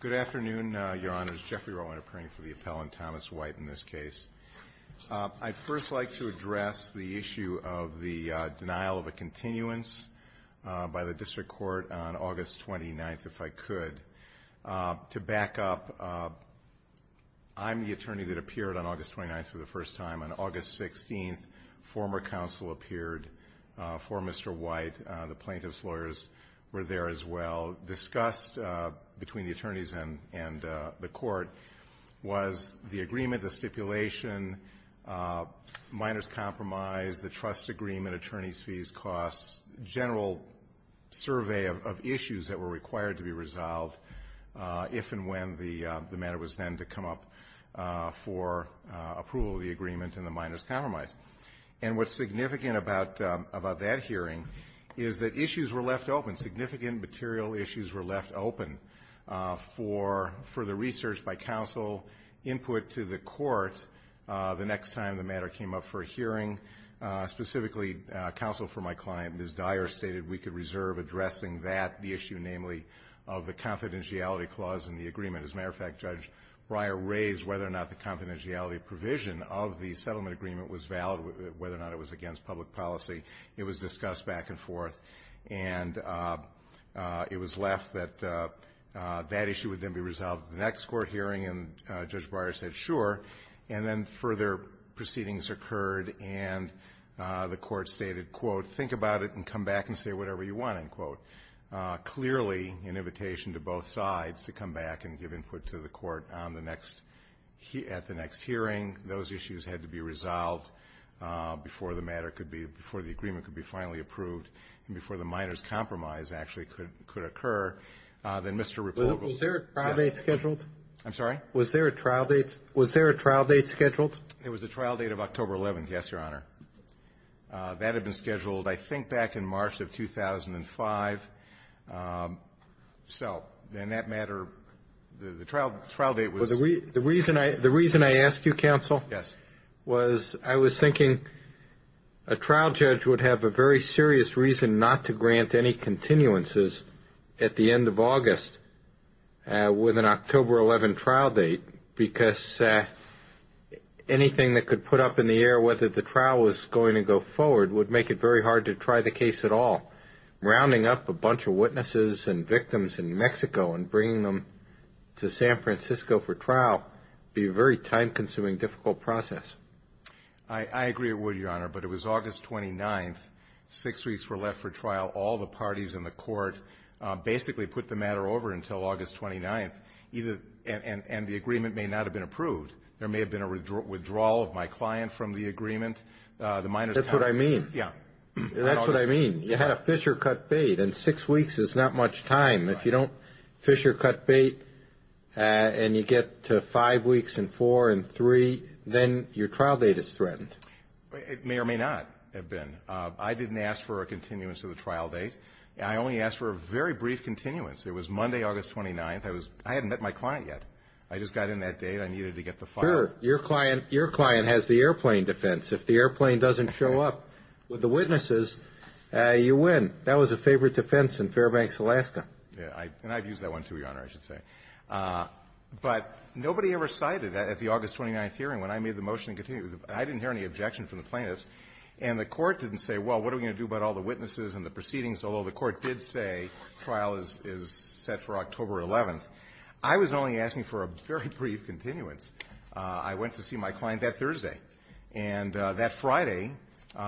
Good afternoon, Your Honors. Jeffrey Rowland appearing for the appellant, Thomas White, in this case. I'd first like to address the issue of the denial of a continuance by the District Court on August 29th, if I could. To back up, I'm the attorney that appeared on August 29th for the first time. On August 16th, former counsel appeared for Mr. White. The plaintiff's lawyers were there as well. Discussed between the attorneys and the Court was the agreement, the stipulation, minor's compromise, the trust agreement, attorney's fees, costs, general survey of issues that were required to be resolved if and when the matter was then to come up for approval of the agreement and the minor's compromise. And what's significant about that hearing is that issues were left open, significant material issues were left open for further research by counsel, input to the Court the next time the matter came up for hearing. Specifically, counsel for my client, Ms. Dyer, stated we could reserve addressing that, the issue namely of the confidentiality clause in the agreement. As a matter of fact, Judge Breyer raised whether or not the confidentiality provision of the settlement agreement was valid, whether or not it was against public policy. It was discussed back and forth, and it was left that that issue would then be resolved at the next court hearing, and Judge Breyer said, sure. And then further proceedings occurred, and the Court stated, quote, think about it and come back and say whatever you want, end quote. Clearly, an invitation to both sides to come back and give input to the Court on the next, at the next hearing, those issues had to be resolved before the matter could be, before the agreement could be finally approved and before the minor's compromise actually could occur. Then Mr. Repugol. Was there a trial date scheduled? I'm sorry? Was there a trial date? Was there a trial date scheduled? It was a trial date of October 11th, yes, Your Honor. That had been scheduled, I think, back in March of 2005. So, then that matter, the trial date was The reason I asked you, counsel, was I was thinking a trial judge would have a very serious reason not to grant any continuances at the end of August with an October 11 trial date because anything that could put up in the air whether the trial was going to go forward would make it very hard to try the case at all. Rounding up a bunch of witnesses and victims in Mexico and bringing them to San Francisco for trial would be a very time-consuming, difficult process. I agree with you, Your Honor, but it was August 29th. Six weeks were left for trial. All the parties in the Court basically put the matter over until August 29th, and the agreement may not have been approved. There may have been a withdrawal of my client from the agreement. That's what I mean. Yeah. That's what I mean. You had a fissure-cut bait, and six weeks is not much time. If you don't fissure-cut bait and you get to five weeks and four and three, then your trial date is threatened. It may or may not have been. I didn't ask for a continuance of the trial date. I only asked for a very brief continuance. It was Monday, August 29th. I hadn't met my client yet. I just got in that date. I needed to get the file. Sure. Your client has the airplane defense. If the airplane doesn't show up with the witnesses, you win. That was a favorite defense in Fairbanks, Alaska. Yeah. And I've used that one, too, Your Honor, I should say. But nobody ever cited that at the August 29th hearing when I made the motion to continue. I didn't hear any objection from the plaintiffs. And the Court didn't say, well, what are we going to do about all the witnesses and the proceedings? Although the Court did say trial is set for October 11th. I was only asking for a very brief continuance. I went to see my client that Thursday. And that Friday, you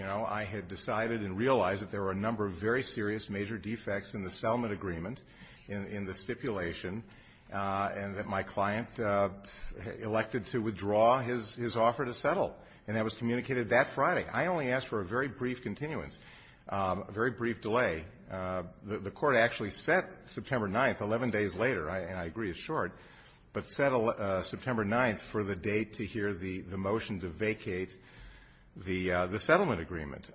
know, I had decided and realized that there were a number of very serious major defects in the settlement agreement, in the stipulation, and that my client elected to withdraw his offer to settle. And that was communicated that Friday. I only asked for a very brief continuance, a very brief delay. The Court actually set September 9th, 11 days later, and I agree it's short, but set September 9th for the date to hear the motion to vacate the settlement agreement.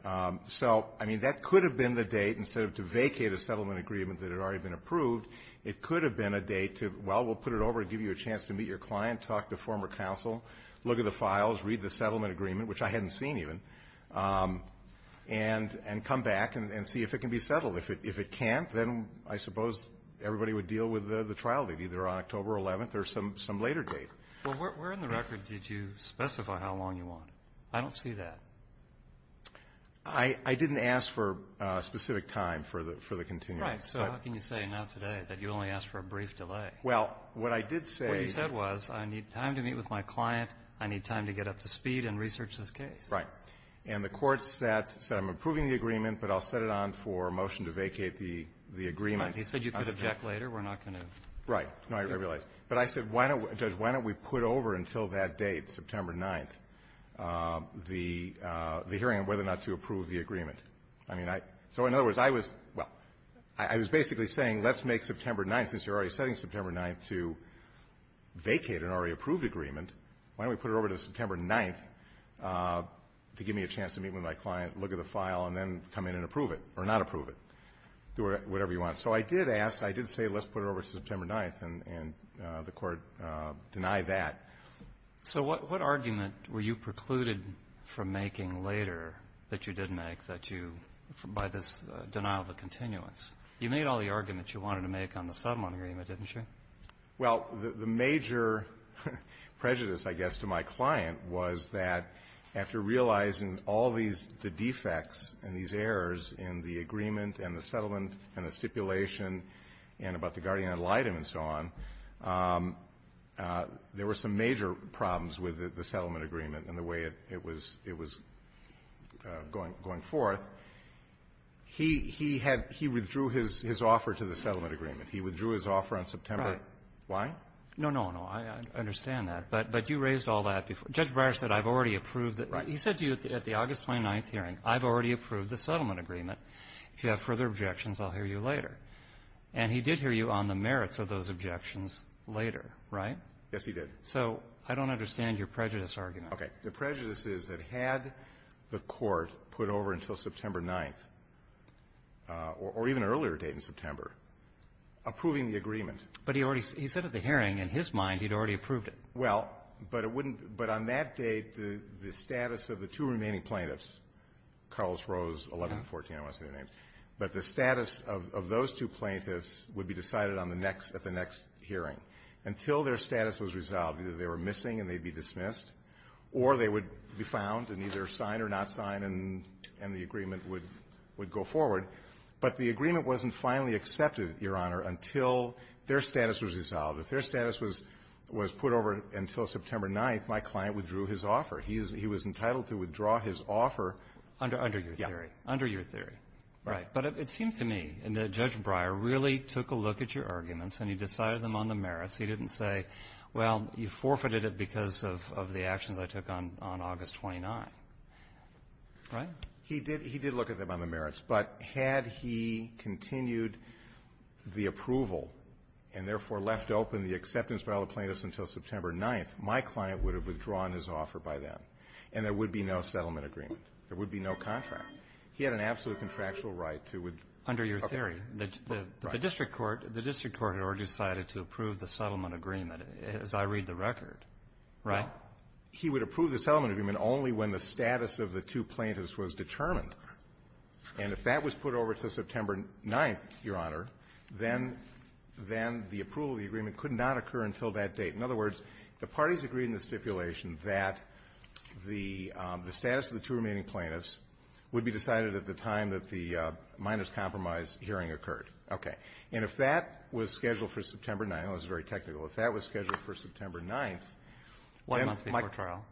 So, I mean, that could have been the date. Instead of to vacate a settlement agreement that had already been approved, it could have been a date to, well, we'll put it over, give you a chance to meet your client, talk to former counsel, look at the files, read the settlement agreement, which I hadn't seen even, and come back and see if it can be settled. If it can't, then I suppose everybody would deal with the trial date, either on October 11th or some later date. Well, where in the record did you specify how long you wanted? I don't see that. I didn't ask for a specific time for the continuance. Right. So how can you say now today that you only asked for a brief delay? Well, what I did say was I need time to meet with my client, I need time to get up to speed and research this case. Right. And the Court said I'm approving the agreement, but I'll set it on for a motion to vacate the agreement. He said you could object later. We're not going to. Right. No, I realize. But I said, Judge, why don't we put over until that date, September 9th, the hearing on whether or not to approve the agreement? I mean, I so, in other words, I was, well, I was basically saying let's make September 9th, since you're already setting September 9th, to vacate an already approved agreement, why don't we put it over to September 9th to give me a chance to meet with my client, look at the file, and then come in and approve it or not approve it, do whatever you want. So I did ask, I did say let's put it over to September 9th, and the Court denied that. So what argument were you precluded from making later that you did make that you, by this denial of a continuance? You made all the arguments you wanted to make on the settlement agreement, didn't you? Well, the major prejudice, I guess, to my client was that after realizing all these defects and these errors in the agreement and the settlement and the stipulation and about the guardian ad litem and so on, there were some major problems with the He had he withdrew his offer to the settlement agreement. He withdrew his offer on September. Right. Why? No, no, no. I understand that. But you raised all that before. Judge Breyer said I've already approved that. Right. He said to you at the August 29th hearing, I've already approved the settlement agreement. If you have further objections, I'll hear you later. And he did hear you on the merits of those objections later, right? Yes, he did. So I don't understand your prejudice argument. Okay. The prejudice is that had the Court put over until September 9th, or even an earlier date in September, approving the agreement. But he already said at the hearing, in his mind, he'd already approved it. Well, but it wouldn't – but on that date, the status of the two remaining plaintiffs, Carlos Rose, 11 and 14, I want to say their names, but the status of those two plaintiffs would be decided on the next – at the next hearing. Until their status was resolved, either they were missing and they'd be dismissed or they would be found and either signed or not signed, and the agreement would go forward. But the agreement wasn't finally accepted, Your Honor, until their status was resolved. If their status was put over until September 9th, my client withdrew his offer. He was entitled to withdraw his offer. Under your theory. Yeah. Under your theory. Right. But it seems to me that Judge Breyer really took a look at your arguments and he decided them on the merits. He didn't say, well, you forfeited it because of the actions I took on August 29th, right? He did – he did look at them on the merits. But had he continued the approval and, therefore, left open the acceptance by all the plaintiffs until September 9th, my client would have withdrawn his offer by then. And there would be no settlement agreement. There would be no contract. He had an absolute contractual right to withdraw. Under your theory. Right. But the district court – the district court had already decided to approve the settlement agreement, as I read the record, right? Well, he would approve the settlement agreement only when the status of the two plaintiffs was determined. And if that was put over until September 9th, Your Honor, then – then the approval of the agreement could not occur until that date. In other words, the parties agreed in the stipulation that the status of the two remaining plaintiffs would be decided at the time that the minors' compromise hearing occurred. Okay. And if that was scheduled for September 9th – I know this is very technical – if that was scheduled for September 9th, then my – One month before trial.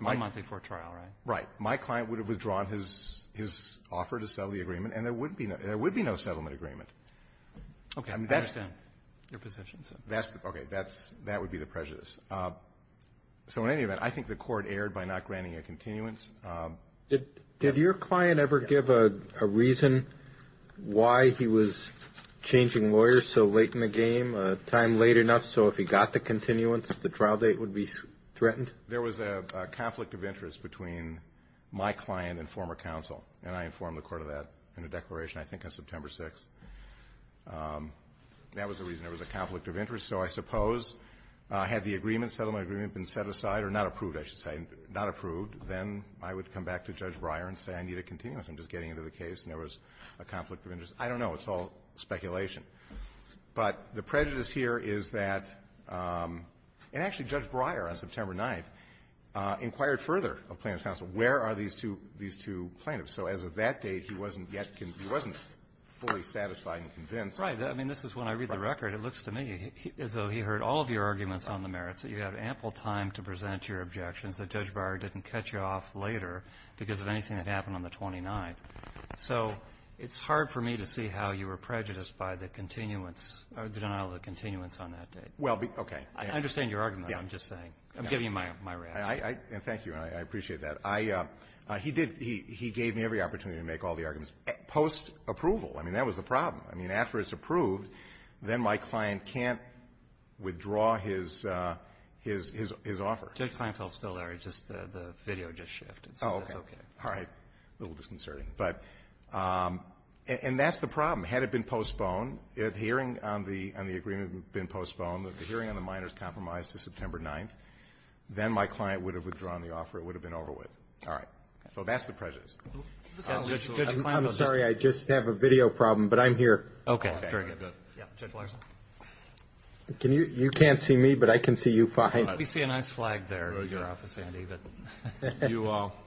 One month before trial, right? Right. My client would have withdrawn his – his offer to settle the agreement. And there would be no – there would be no settlement agreement. Okay. I understand your position, sir. That's – okay. That's – that would be the prejudice. So in any event, I think the Court erred by not granting a continuance. Did – did your client ever give a reason why he was changing lawyers so late in the game, a time late enough so if he got the continuance, the trial date would be threatened? There was a conflict of interest between my client and former counsel. And I informed the Court of that in a declaration, I think, on September 6th. That was the reason. There was a conflict of interest. So I suppose had the agreement, settlement agreement, been set aside – or not approved, I should say – not approved, then I would come back to Judge Breyer and say, I need a continuance. I'm just getting into the case. And there was a conflict of interest. I don't know. It's all speculation. But the prejudice here is that – and actually, Judge Breyer, on September 9th, inquired further of plaintiff's counsel, where are these two – these two plaintiffs? So as of that date, he wasn't yet – he wasn't fully satisfied and convinced. Right. I mean, this is when I read the record. It looks to me as though he heard all of your arguments on the merits. You had ample time to present your objections that Judge Breyer didn't cut you off later because of anything that happened on the 29th. So it's hard for me to see how you were prejudiced by the continuance – the denial of the continuance on that date. Well, okay. I understand your argument, I'm just saying. I'm giving you my reaction. Thank you. I appreciate that. I – he did – he gave me every opportunity to make all the arguments post-approval. I mean, that was the problem. I mean, after it's approved, then my client can't withdraw his – his offer. Judge Kleinfeld's still there. He just – the video just shifted, so that's okay. All right. A little disconcerting. But – and that's the problem. Had it been postponed, the hearing on the – on the agreement had been postponed, the hearing on the minor's compromise to September 9th, then my client would have withdrawn the offer. It would have been over with. All right. So that's the prejudice. Judge Kleinfeld. I'm sorry, I just have a video problem, but I'm here. Okay. Very good. Judge Larson. Can you – you can't see me, but I can see you fine. We see a nice flag there in your office, Andy. You –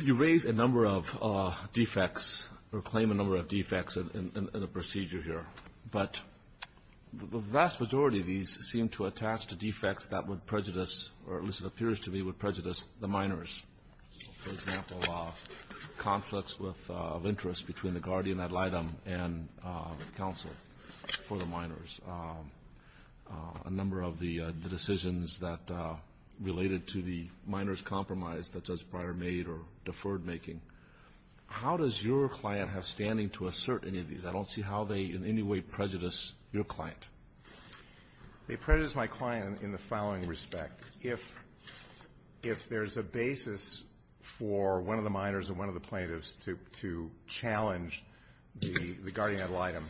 you raise a number of defects or claim a number of defects in the procedure here, but the vast majority of these seem to attach to defects that would prejudice or at least it appears to me would prejudice the minors. For example, conflicts with – of interest between the guardian ad litem and counsel for the minors. A number of the decisions that related to the minor's compromise that Judge Breyer made or deferred making. How does your client have standing to assert any of these? I don't see how they in any way prejudice your client. They prejudice my client in the following respect. If – if there's a basis for one of the minors and one of the plaintiffs to – to challenge the guardian ad litem,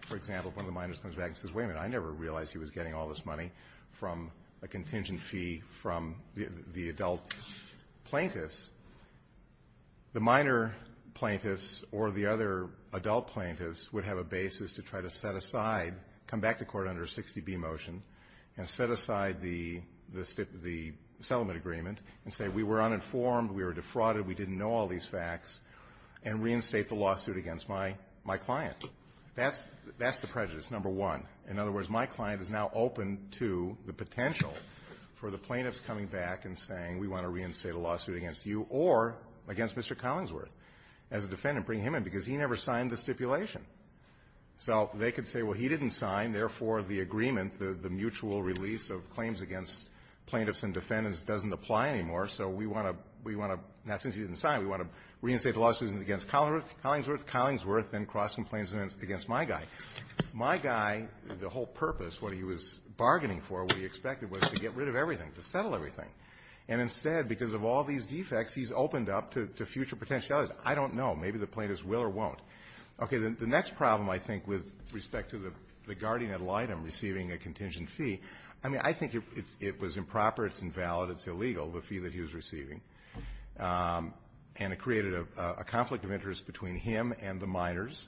for example, if one of the minors comes back and says, wait a minute, I never realized he was getting all this money from a contingent fee from the adult plaintiffs, the minor plaintiffs or the other adult plaintiffs would have a come back to court under a 60B motion and set aside the – the settlement agreement and say, we were uninformed, we were defrauded, we didn't know all these facts, and reinstate the lawsuit against my – my client. That's – that's the prejudice, number one. In other words, my client is now open to the potential for the plaintiffs coming back and saying, we want to reinstate a lawsuit against you or against Mr. Collinsworth as a defendant, bring him in, because he never signed the stipulation. So they could say, well, he didn't sign, therefore, the agreement, the – the mutual release of claims against plaintiffs and defendants doesn't apply anymore, so we want to – we want to – now, since he didn't sign, we want to reinstate the lawsuit against Collinsworth, Collinsworth, then cross-complaints against my guy. My guy, the whole purpose, what he was bargaining for, what he expected was to get rid of everything, to settle everything. And instead, because of all these defects, he's opened up to – to future potentialities. I don't know. Maybe the plaintiffs will or won't. Okay. Then the next problem, I think, with respect to the guardian ad litem receiving a contingent fee, I mean, I think it's – it was improper, it's invalid, it's illegal, the fee that he was receiving. And it created a – a conflict of interest between him and the minors.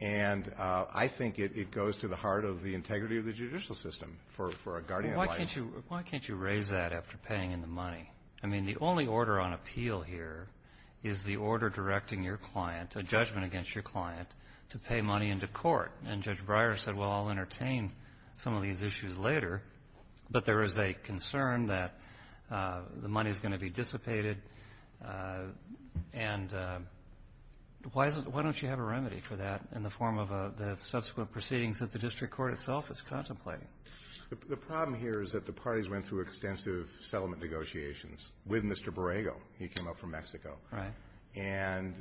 And I think it – it goes to the heart of the integrity of the judicial system for – for a guardian ad litem. Well, why can't you – why can't you raise that after paying in the money? I mean, the only order on appeal here is the order directing your client, a judgment against your client, to pay money into court. And Judge Breyer said, well, I'll entertain some of these issues later, but there is a concern that the money is going to be dissipated. And why is it – why don't you have a remedy for that in the form of a – the subsequent proceedings that the district court itself is contemplating? The problem here is that the parties went through extensive settlement negotiations with Mr. Borrego. He came up from Mexico. Right. And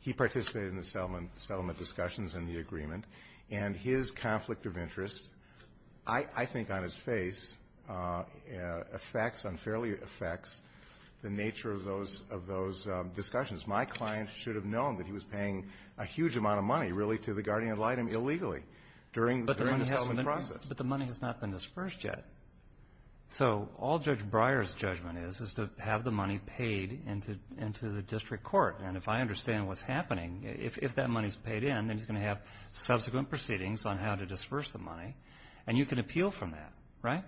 he participated in the settlement – settlement discussions in the agreement. And his conflict of interest, I – I think on his face, affects – unfairly affects the nature of those – of those discussions. My client should have known that he was paying a huge amount of money, really, to the guardian ad litem illegally during the settlement process. But the money has not been disbursed yet. So all Judge Breyer's judgment is is to have the money paid into – into the district court. And if I understand what's happening, if that money is paid in, then he's going to have subsequent proceedings on how to disburse the money. And you can appeal from that, right?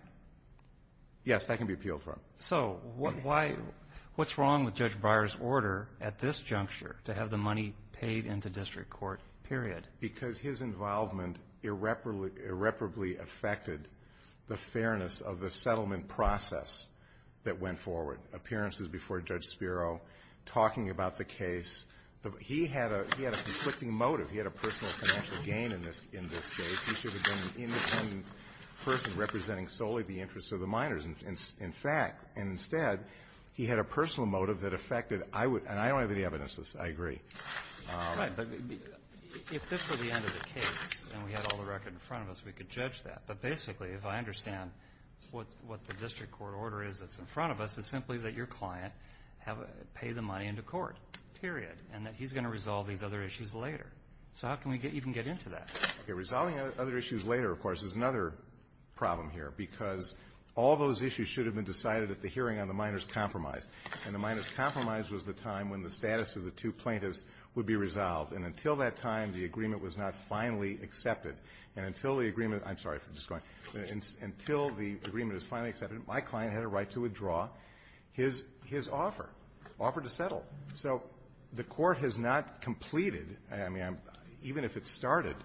Yes, I can be appealed from. So why – what's wrong with Judge Breyer's order at this juncture to have the money paid into district court, period? Because his involvement irreparably – irreparably affected the fairness of the settlement process that went forward. Appearances before Judge Spiro, talking about the case. He had a – he had a conflicting motive. He had a personal financial gain in this – in this case. He should have been an independent person representing solely the interests of the minors. In fact – and instead, he had a personal motive that affected – I would – and I don't have any evidence of this. I agree. Right. But if this were the end of the case and we had all the record in front of us, we could judge that. But basically, if I understand what – what the district court order is that's in front of us, it's simply that your client have – pay the money into court, period, and that he's going to resolve these other issues later. So how can we get – even get into that? Okay. Resolving other issues later, of course, is another problem here, because all those issues should have been decided at the hearing on the minors' compromise. And the minors' compromise was the time when the status of the two plaintiffs would be resolved. And until that time, the agreement was not finally accepted. And until the agreement – I'm sorry if I'm just going – until the agreement is finally accepted, my client had a right to withdraw his – his offer, offer to settle. So the Court has not completed – I mean, even if it started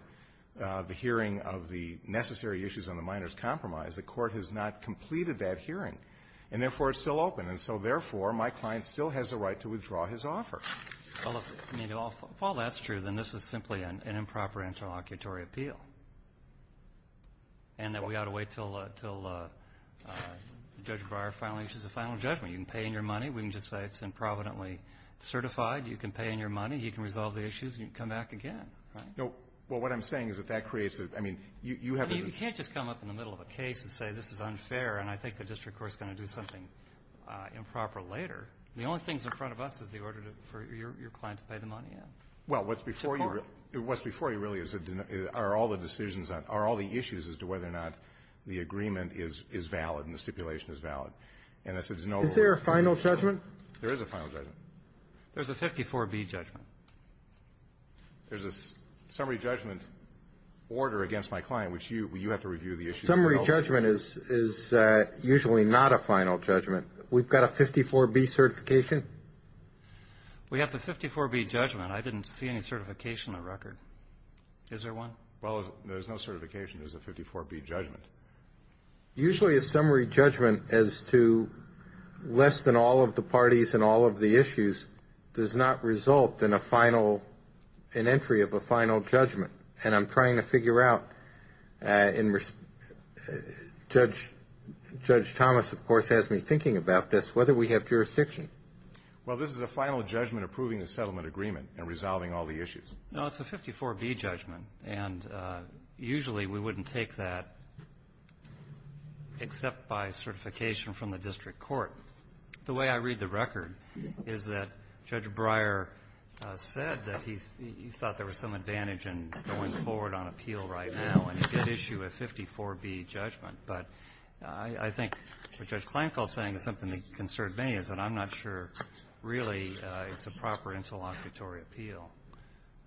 the hearing of the necessary issues on the minors' compromise, the Court has not completed that hearing, and therefore, it's still open. And so, therefore, my client still has a right to withdraw his offer. Well, if – I mean, if all that's true, then this is simply an improper interlocutory appeal, and that we ought to wait until – until Judge Breyer finally issues a final judgment. You can pay in your money. We can just say it's improvidently certified. You can pay in your money. He can resolve the issues, and you can come back again, right? No. Well, what I'm saying is that that creates a – I mean, you have a – I mean, you can't just come up in the middle of a case and say this is unfair, and I think the district court is going to do something improper later. The only things in front of us is the order to – for your client to pay the money in. Well, what's before you really is – are all the decisions on – are all the issues as to whether or not the agreement is valid and the stipulation is valid. And this is no – Is there a final judgment? There is a final judgment. There's a 54B judgment. There's a summary judgment order against my client, which you – you have to review the issue. Summary judgment is usually not a final judgment. We've got a 54B certification. We have the 54B judgment. I didn't see any certification on the record. Is there one? Well, there's no certification. There's a 54B judgment. Usually, a summary judgment as to less than all of the parties and all of the issues does not result in a final – an entry of a final judgment. And I'm trying to figure out in – Judge Thomas, of course, has me thinking about this, whether we have jurisdiction. Well, this is a final judgment approving the settlement agreement and resolving all the issues. No, it's a 54B judgment. And usually, we wouldn't take that except by certification from the district court. The way I read the record is that Judge Breyer said that he thought there was some advantage in going forward on appeal right now and he could issue a 54B judgment. But I think what Judge Kleinfeld is saying is something that concerned me is that I'm not sure really it's a proper interlocutory appeal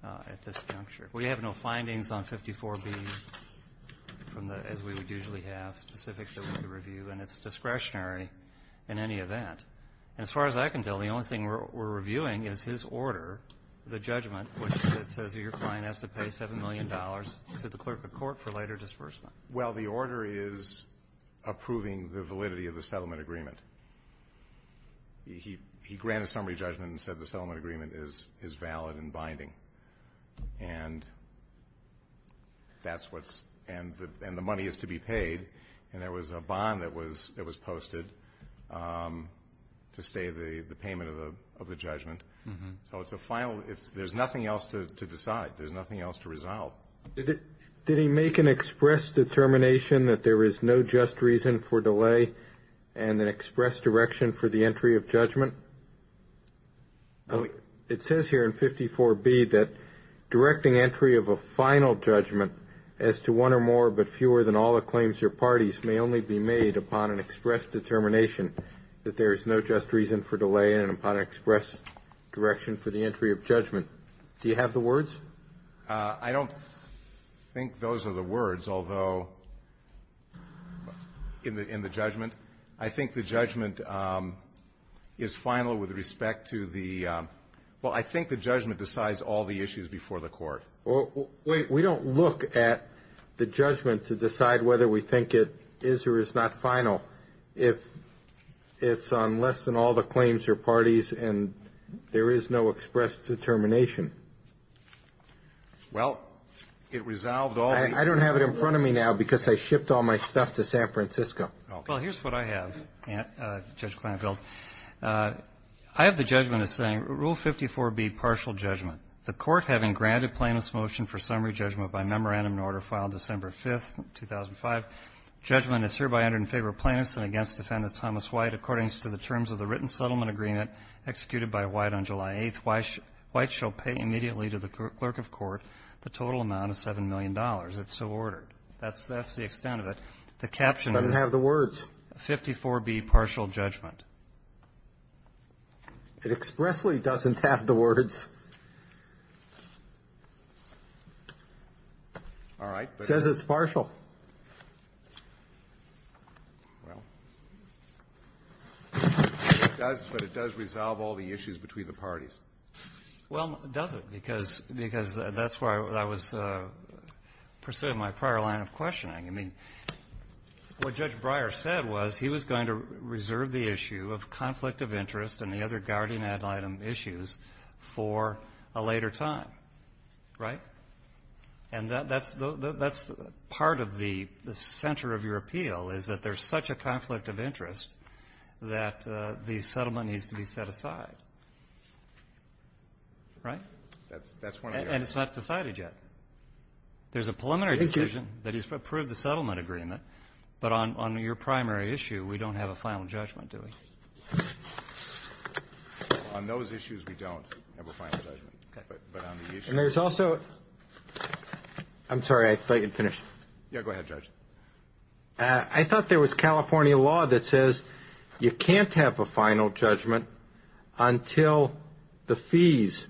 at this juncture. We have no findings on 54B from the – as we would usually have specific to the review, and it's discretionary in any event. As far as I can tell, the only thing we're reviewing is his order, the judgment, which says that your client has to pay $7 million to the clerk of court for later disbursement. Well, the order is approving the validity of the settlement agreement. He granted summary judgment and said the settlement agreement is valid and binding. And that's what's – and the money is to be paid. And there was a bond that was posted to stay the payment of the judgment. So it's a final – there's nothing else to decide. There's nothing else to resolve. Did he make an express determination that there is no just reason for delay and an express direction for the entry of judgment? It says here in 54B that directing entry of a final judgment as to one or more but fewer than all the claims your parties may only be made upon an express determination that there is no just reason for delay and upon express direction for the entry of judgment. Do you have the words? I don't think those are the words, although – in the judgment. I think the judgment is final with respect to the – well, I think the judgment decides all the issues before the court. Well, wait. We don't look at the judgment to decide whether we think it is or is not final. If it's on less than all the claims your parties and there is no express determination. Well, it resolved all the issues. I don't have it in front of me now because I shipped all my stuff to San Francisco. Well, here's what I have, Judge Klinefeld. I have the judgment as saying Rule 54B, partial judgment. The court having granted plaintiff's motion for summary judgment by memorandum order filed December 5th, 2005, judgment is hereby entered in favor of plaintiffs and against defendants Thomas White. According to the terms of the written settlement agreement executed by White on July 8th, White shall pay immediately to the clerk of court the total amount of $7 million. It's so ordered. That's the extent of it. The caption is – It doesn't have the words. 54B, partial judgment. It expressly doesn't have the words. All right. It says it's partial. Well, it does, but it does resolve all the issues between the parties. Well, it doesn't, because that's where I was pursuing my prior line of questioning. I mean, what Judge Breyer said was he was going to reserve the issue of conflict of interest and the other guardian ad litem issues for a later time, right? And that's the – that's part of the center of your appeal, is that there's such a conflict of interest that the settlement needs to be set aside. Right? That's one of the others. And it's not decided yet. There's a preliminary decision that he's approved the settlement agreement, but on your primary issue, we don't have a final judgment, do we? On those issues, we don't have a final judgment. Okay. And there's also – I'm sorry, I thought you'd finish. Yeah, go ahead, Judge. I thought there was California law that says you can't have a final judgment until the fees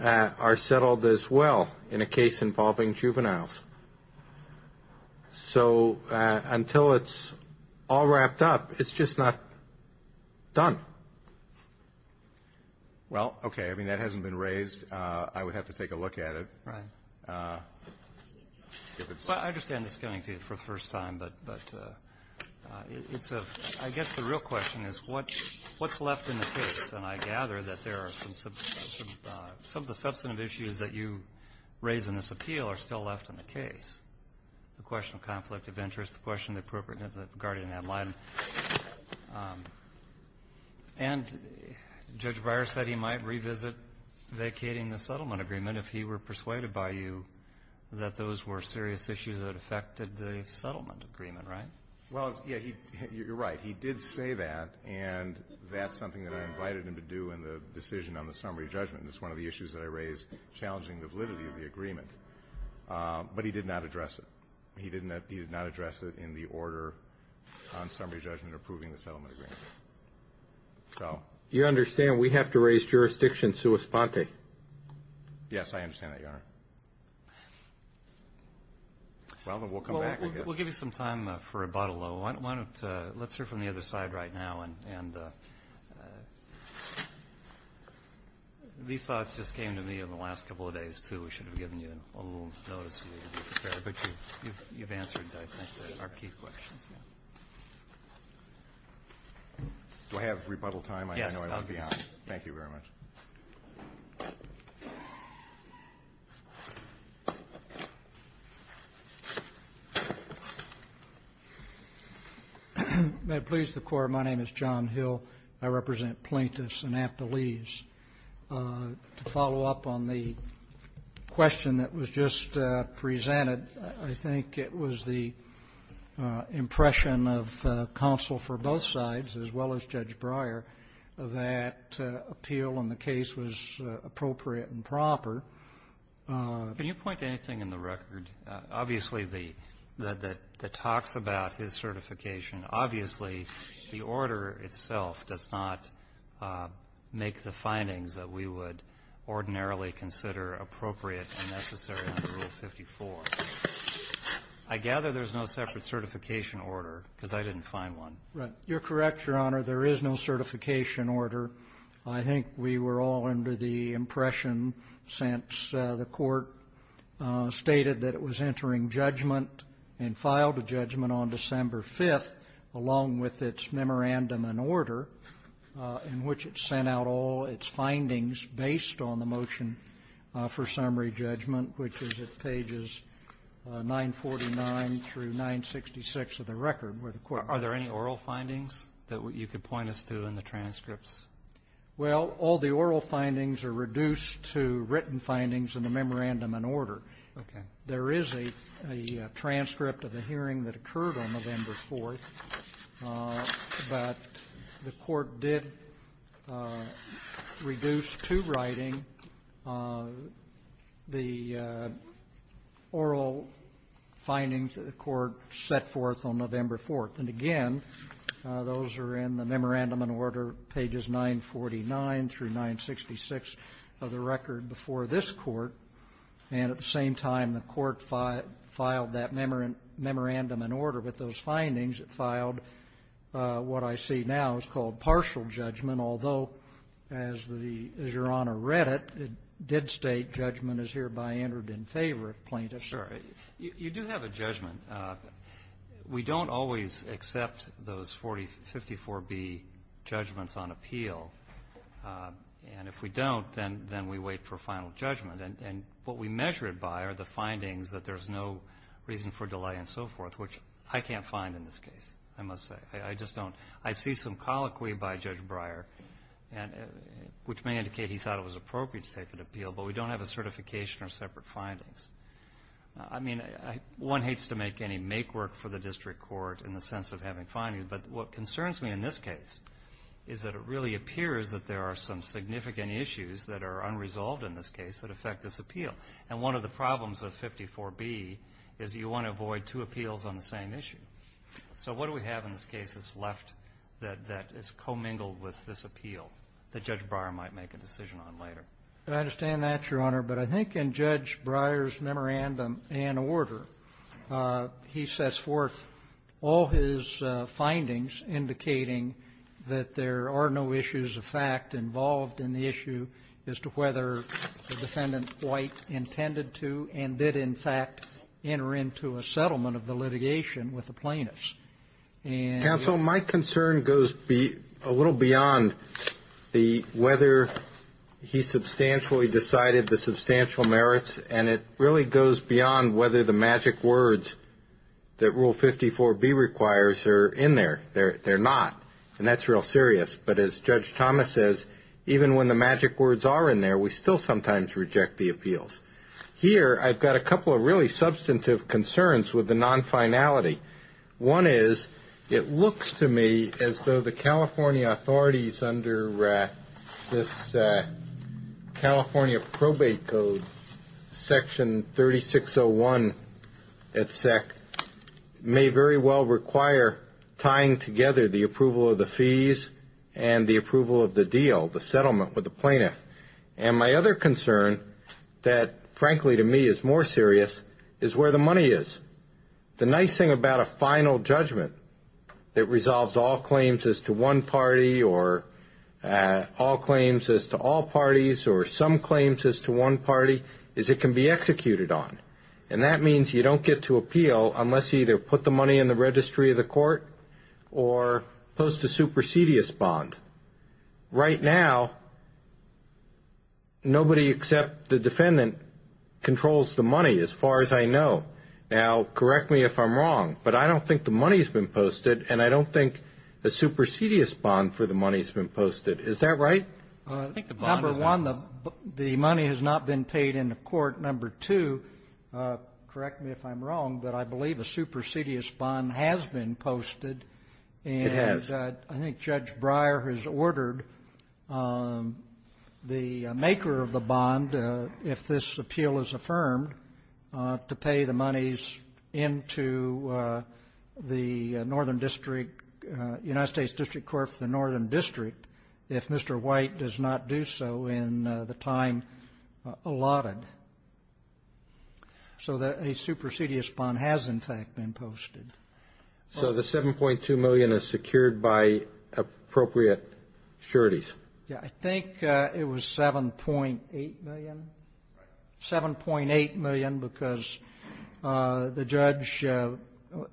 are settled as well in a case involving juveniles. So until it's all wrapped up, it's just not done. Well, okay. I mean, that hasn't been raised. I would have to take a look at it. Right. I understand it's coming to you for the first time, but it's a – I guess the real question is what's left in the case? And I gather that there are some – some of the substantive issues that you raise in this appeal are still left in the case – the question of conflict of interest, the question of the appropriateness of the guardian ad litem. And Judge Breyer said he might revisit vacating the settlement agreement if he were persuaded by you that those were serious issues that affected the settlement agreement, right? Well, yeah, he – you're right. He did say that, and that's something that I invited him to do in the decision on the summary judgment. It's one of the issues that I raised challenging the validity of the agreement. But he did not address it. He didn't – he did not address it in the order on summary judgment approving the settlement agreement. So. You understand we have to raise jurisdiction sua sponte? Yes, I understand that, Your Honor. Well, then we'll come back, I guess. We'll give you some time for rebuttal, though. Why don't – let's hear from the other side right now. And these thoughts just came to me in the last couple of days, too. We should have given you a little notice, but you've answered, I think, our key questions. Do I have rebuttal time? Yes, obviously. Thank you very much. May it please the Court, my name is John Hill. I represent Plaintiffs and Aptolese. To follow up on the question that was just presented, I think it was the impression of counsel for both sides, as well as Judge Breyer, that appeal on the case was appropriate and proper. Can you point to anything in the record, obviously, that talks about his certification? Obviously, the order itself does not make the findings that we would ordinarily consider appropriate and necessary under Rule 54. I gather there's no separate certification order, because I didn't find one. Right. You're correct, Your Honor. There is no certification order. I think we were all under the impression, since the Court stated that it was entering judgment and filed a judgment on December 5th, along with its memorandum and order, in which it sent out all its findings based on the motion for summary judgment, which is at pages 949 through 966 of the record, where the Court... Are there any oral findings that you could point us to in the transcripts? Well, all the oral findings are reduced to written findings in the memorandum and order. Okay. There is a transcript of the hearing that occurred on November 4th, but the Court did reduce to writing the oral findings that the Court set forth on November 4th. And again, those are in the memorandum and order, pages 949 through 966 of the record before this Court, and at the same time, the Court filed that memorandum and order with those findings. It filed what I see now is called partial judgment, although, as the Your Honor read it, it did state judgment is hereby entered in favor of plaintiffs. Sure. You do have a judgment. We don't always accept those 50-4B judgments on appeal. And if we don't, then we wait for final judgment. And what we measure it by are the findings that there's no reason for delay and so forth, which I can't find in this case, I must say. I just don't. I see some colloquy by Judge Breyer, which may indicate he thought it was appropriate to take an appeal, but we don't have a certification or separate findings. I mean, one hates to make any make-work for the district court in the sense of having But what concerns me in this case is that it really appears that there are some significant issues that are unresolved in this case that affect this appeal. And one of the problems of 54B is you want to avoid two appeals on the same issue. So what do we have in this case that's left that is commingled with this appeal that Judge Breyer might make a decision on later? I understand that, Your Honor, but I think in Judge Breyer's memorandum and order, he sets forth all his findings indicating that there are no issues of fact involved in the issue as to whether the defendant quite intended to and did, in fact, enter into a settlement of the litigation with the plaintiffs. And so my concern goes a little beyond the whether he substantially decided the substantial words that Rule 54B requires are in there. They're not, and that's real serious. But as Judge Thomas says, even when the magic words are in there, we still sometimes reject the appeals. Here, I've got a couple of really substantive concerns with the non-finality. One is, it looks to me as though the California authorities under this California Probate Code, Section 3601, et sec., may very well require tying together the approval of the fees and the approval of the deal, the settlement with the plaintiff. And my other concern that, frankly to me, is more serious is where the money is. The nice thing about a final judgment that resolves all claims as to one party or all claims as to all parties or some claims as to one party is it can be executed on. And that means you don't get to appeal unless you either put the money in the registry of the court or post a supersedious bond. Right now, nobody except the defendant controls the money, as far as I know. Now, correct me if I'm wrong, but I don't think the money's been posted, and I don't think a supersedious bond for the money's been posted. Is that right? I think the bond has not been posted. Number one, the money has not been paid in the court. Number two, correct me if I'm wrong, but I believe a supersedious bond has been posted. It has. And I think Judge Breyer has ordered the maker of the bond, if this appeal is affirmed, to pay the monies into the Northern District, United States District Court for the Northern District if Mr. White does not do so in the time allotted. So a supersedious bond has, in fact, been posted. So the $7.2 million is secured by appropriate sureties? Yeah, I think it was $7.8 million. $7.8 million because the judge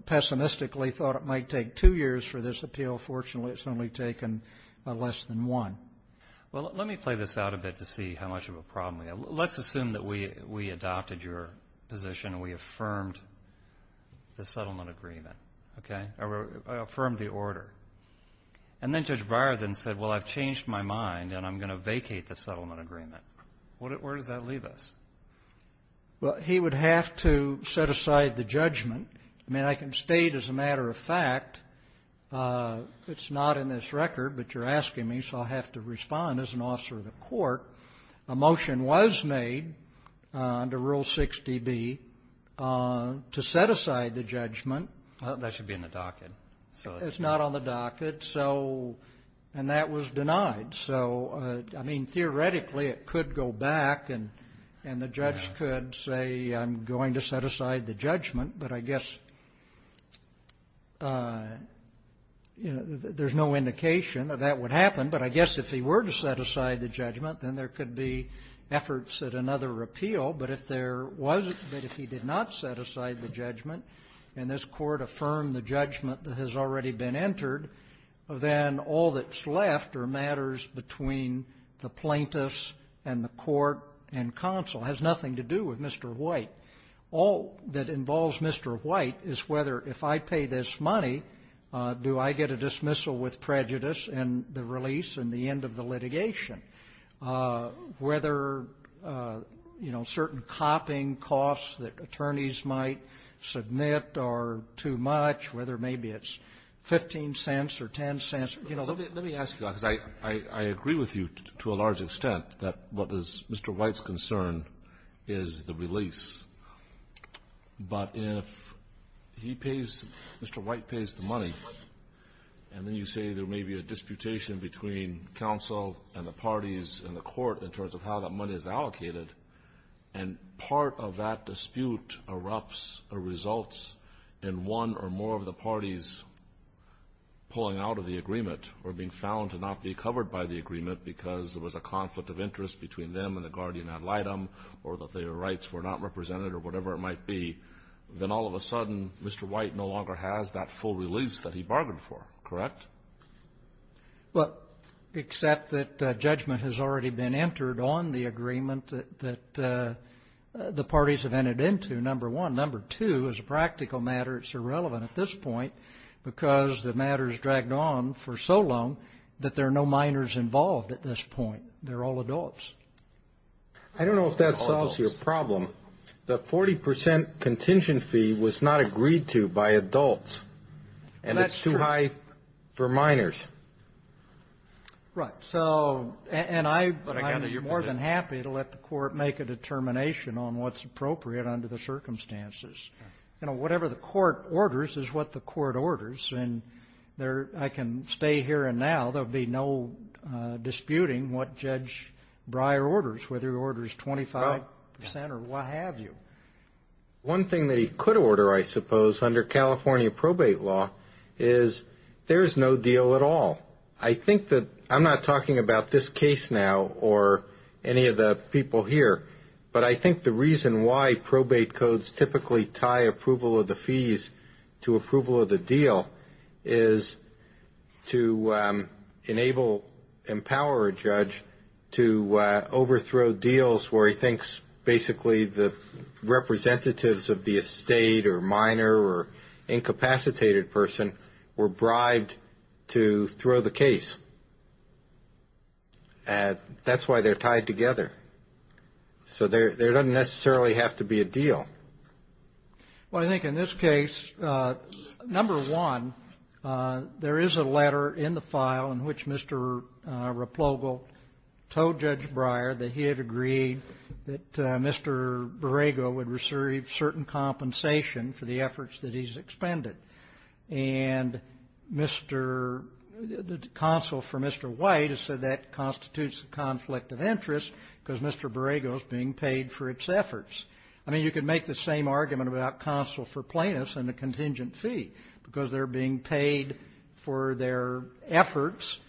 pessimistically thought it might take two years for this appeal. Fortunately, it's only taken less than one. Well, let me play this out a bit to see how much of a problem we have. Let's assume that we adopted your position and we affirmed the settlement agreement, okay, or affirmed the order. And then Judge Breyer then said, well, I've changed my mind, and I'm going to vacate the settlement agreement. Where does that leave us? Well, he would have to set aside the judgment. I mean, I can state as a matter of fact, it's not in this record, but you're asking me, so I'll have to respond as an officer of the court. A motion was made under Rule 6dB to set aside the judgment. That should be in the docket. So it's not on the docket. So and that was denied. So I mean, theoretically, it could go back and the judge could say, I'm going to set aside the judgment. But I guess there's no indication that that would happen. But I guess if he were to set aside the judgment, then there could be efforts at another repeal. But if there was, but if he did not set aside the judgment and this Court affirmed the judgment that has already been entered, then all that's left are matters between the plaintiffs and the court and counsel. It has nothing to do with Mr. White. All that involves Mr. White is whether if I pay this money, do I get a dismissal with prejudice and the release and the end of the litigation? Whether, you know, certain copying costs that attorneys might submit are too much, whether maybe it's 15 cents or 10 cents, you know. Kennedy. Let me ask you, because I agree with you to a large extent that what is Mr. White's concern is the release. But if he pays, Mr. White pays the money, and then you say there may be a disputation between counsel and the parties and the court in terms of how that money is allocated, and part of that dispute erupts or results in one or more of the parties pulling out of the agreement or being found to not be covered by the agreement because there was a conflict of interest between them and the guardian ad litem or that their rights were not represented or whatever it might be, then all of a sudden Mr. White no longer has that full release that he bargained for, correct? White. Well, except that judgment has already been entered on the agreement that the parties have entered into, number one. Number two, as a practical matter, it's irrelevant at this point because the matter is dragged on for so long that there are no minors involved at this point. They're all adults. I don't know if that solves your problem. The 40 percent contingent fee was not agreed to by adults. That's true. For minors. Right. So, and I'm more than happy to let the court make a determination on what's appropriate under the circumstances. You know, whatever the court orders is what the court orders, and I can stay here and now. There'll be no disputing what Judge Breyer orders, whether he orders 25 percent or what have you. One thing that he could order, I suppose, under California probate law is there's no deal at all. I think that, I'm not talking about this case now or any of the people here, but I think the reason why probate codes typically tie approval of the fees to approval of the representatives of the estate or minor or incapacitated person were bribed to throw the case. And that's why they're tied together. So there doesn't necessarily have to be a deal. Well, I think in this case, number one, there is a letter in the file in which Mr. Replogle told Judge Breyer that he had agreed that Mr. Borrego would receive certain compensation for the efforts that he's expended. And the counsel for Mr. White has said that constitutes a conflict of interest because Mr. Borrego is being paid for its efforts. I mean, you could make the same argument about counsel for plaintiffs and a contingent fee because they're being paid for their efforts.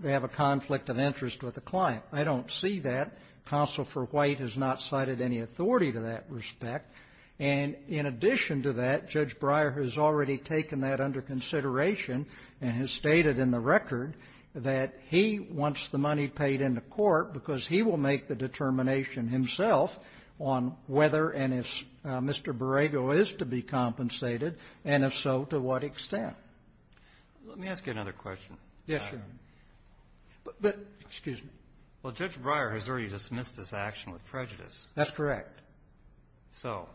They have a conflict of interest with the client. I don't see that. Counsel for White has not cited any authority to that respect. And in addition to that, Judge Breyer has already taken that under consideration and has stated in the record that he wants the money paid in the court because he will make the determination himself on whether and if Mr. Borrego is to be compensated and if so, to what extent. Let me ask you another question. Yes, Your Honor. Excuse me. Well, Judge Breyer has already dismissed this action with prejudice. That's correct. So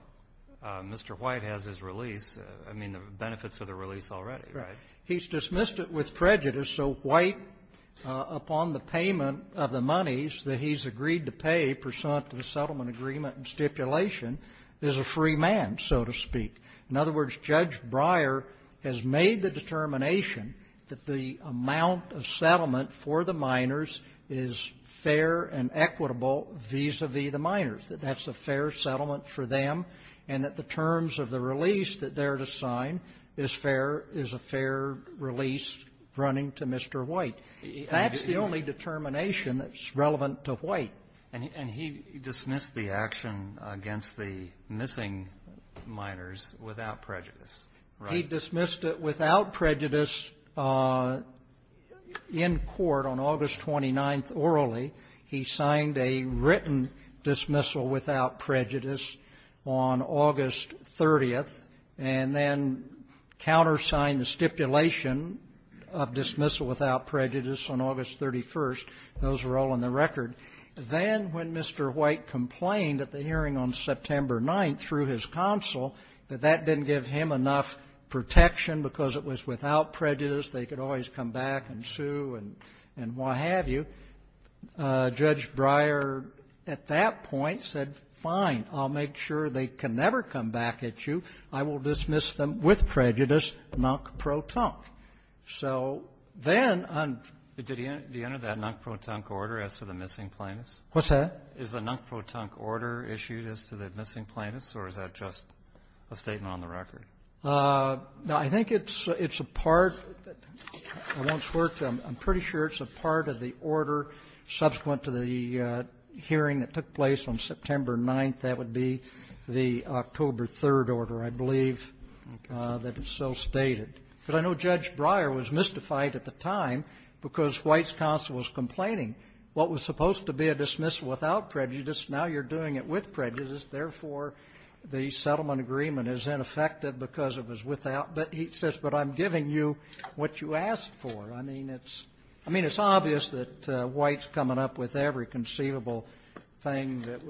Mr. White has his release. I mean, the benefits of the release already, right? He's dismissed it with prejudice. So White, upon the payment of the monies that he's agreed to pay pursuant to the settlement agreement and stipulation, is a free man, so to speak. In other words, Judge Breyer has made the determination that the amount of settlement for the minors is fair and equitable vis-a-vis the minors, that that's a fair settlement for them and that the terms of the release that they're to sign is fair, is a fair release running to Mr. White. That's the only determination that's relevant to White. And he dismissed the action against the missing minors without prejudice, right? He dismissed it without prejudice in court on August 29th orally. He signed a written dismissal without prejudice on August 30th and then countersigned the stipulation of dismissal without prejudice on August 31st. Those are all on the record. Then when Mr. White complained at the hearing on September 9th through his counsel that that didn't give him enough protection because it was without prejudice, they could always come back and sue and what have you, Judge Breyer at that point said, fine, I'll make sure they can never come back at you. I will dismiss them with prejudice non-pro-tunc. So then on the end of that non-pro-tunc order as to the missing plaintiffs? What's that? Is the non-pro-tunc order issued as to the missing plaintiffs or is that just a statement on the record? No, I think it's a part. I'm pretty sure it's a part of the order subsequent to the hearing that took place on September 9th. That would be the October 3rd order, I believe, that is still stated. Because I know Judge Breyer was mystified at the time because White's counsel was complaining what was supposed to be a dismissal without prejudice, now you're doing it with prejudice. Therefore, the settlement agreement is ineffective because it was without. But he says, but I'm giving you what you asked for. I mean, it's obvious that White's coming up with every conceivable thing that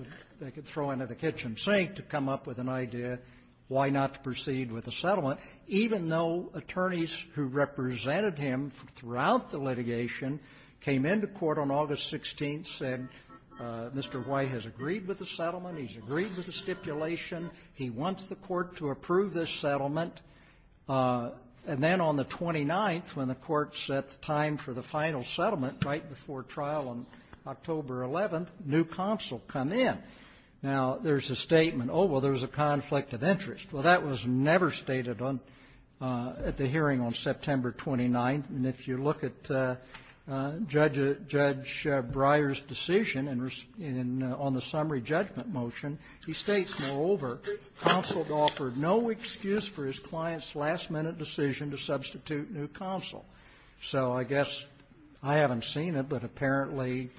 they could throw into the kitchen sink to come up with an idea why not to proceed with a settlement. Even though attorneys who represented him throughout the litigation came into court on August 16th, said Mr. White has agreed with the settlement, he's agreed with the stipulation, he wants the court to approve this settlement. And then on the 29th, when the court set the time for the final settlement right before trial on October 11th, new counsel come in. Now, there's a statement, oh, well, there's a conflict of interest. Well, that was never stated on at the hearing on September 29th. And if you look at Judge Breyer's decision on the summary judgment motion, he states, moreover, counsel offered no excuse for his client's last-minute decision to substitute new counsel. So I guess I haven't seen it, but apparently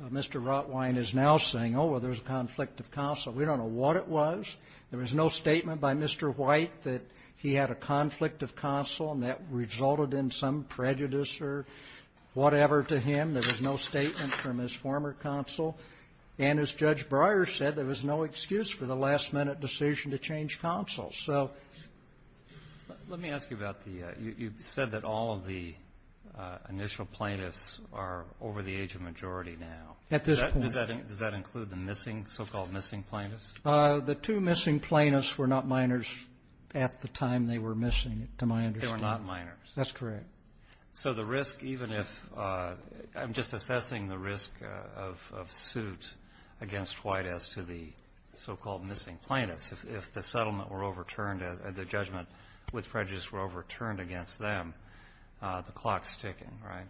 Mr. Rotwein is now saying, oh, well, there's a conflict of counsel. We don't know what it was. There was no statement by Mr. White that he had a conflict of counsel and that resulted in some prejudice or whatever to him. There was no statement from his former counsel. And as Judge Breyer said, there was no excuse for the last-minute decision to change counsel. So ---- Roberts. Let me ask you about the you said that all of the initial plaintiffs are over the age of majority now. At this point. Does that include the missing, so-called missing plaintiffs? The two missing plaintiffs were not minors at the time they were missing, to my understanding. They were not minors. That's correct. So the risk, even if ---- I'm just assessing the risk of suit against White as to the so-called missing plaintiffs. If the settlement were overturned, the judgment with prejudice were overturned against them, the clock's ticking, right?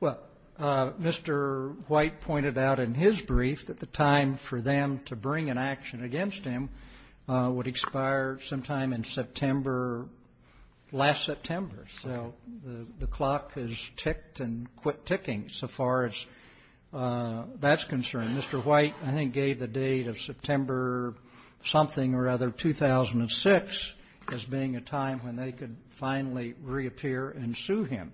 Well, Mr. White pointed out in his brief that the time for them to bring an action against him would expire sometime in September, last September. So the clock has ticked and quit ticking so far as that's concerned. Mr. White, I think, gave the date of September something or other 2006 as being a time when they could finally reappear and sue him.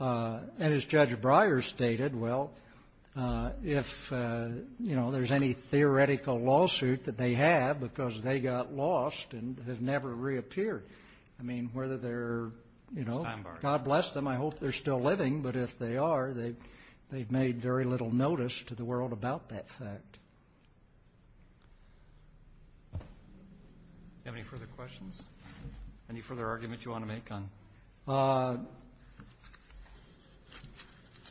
And as Judge Breyer stated, well, if, you know, there's any theoretical lawsuit that they have because they got lost and have never reappeared, I mean, whether they're, you know, God bless them. I hope they're still living. But if they are, they've made very little notice to the world about that fact. Do you have any further questions? Any further argument you want to make on?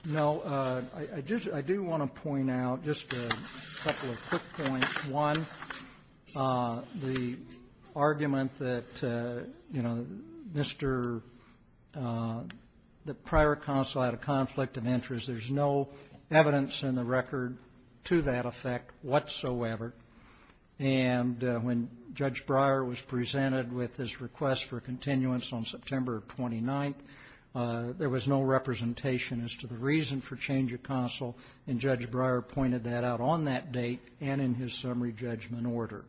No. I just do want to point out just a couple of quick points. One, the argument that, you know, Mr. the prior counsel had a conflict of interest. There's no evidence in the record to that effect whatsoever. And when Judge Breyer was presented with his request for continuance on September 29th, there was no representation as to the reason for change of counsel. And Judge Breyer pointed that out on that date and in his summary judgment order.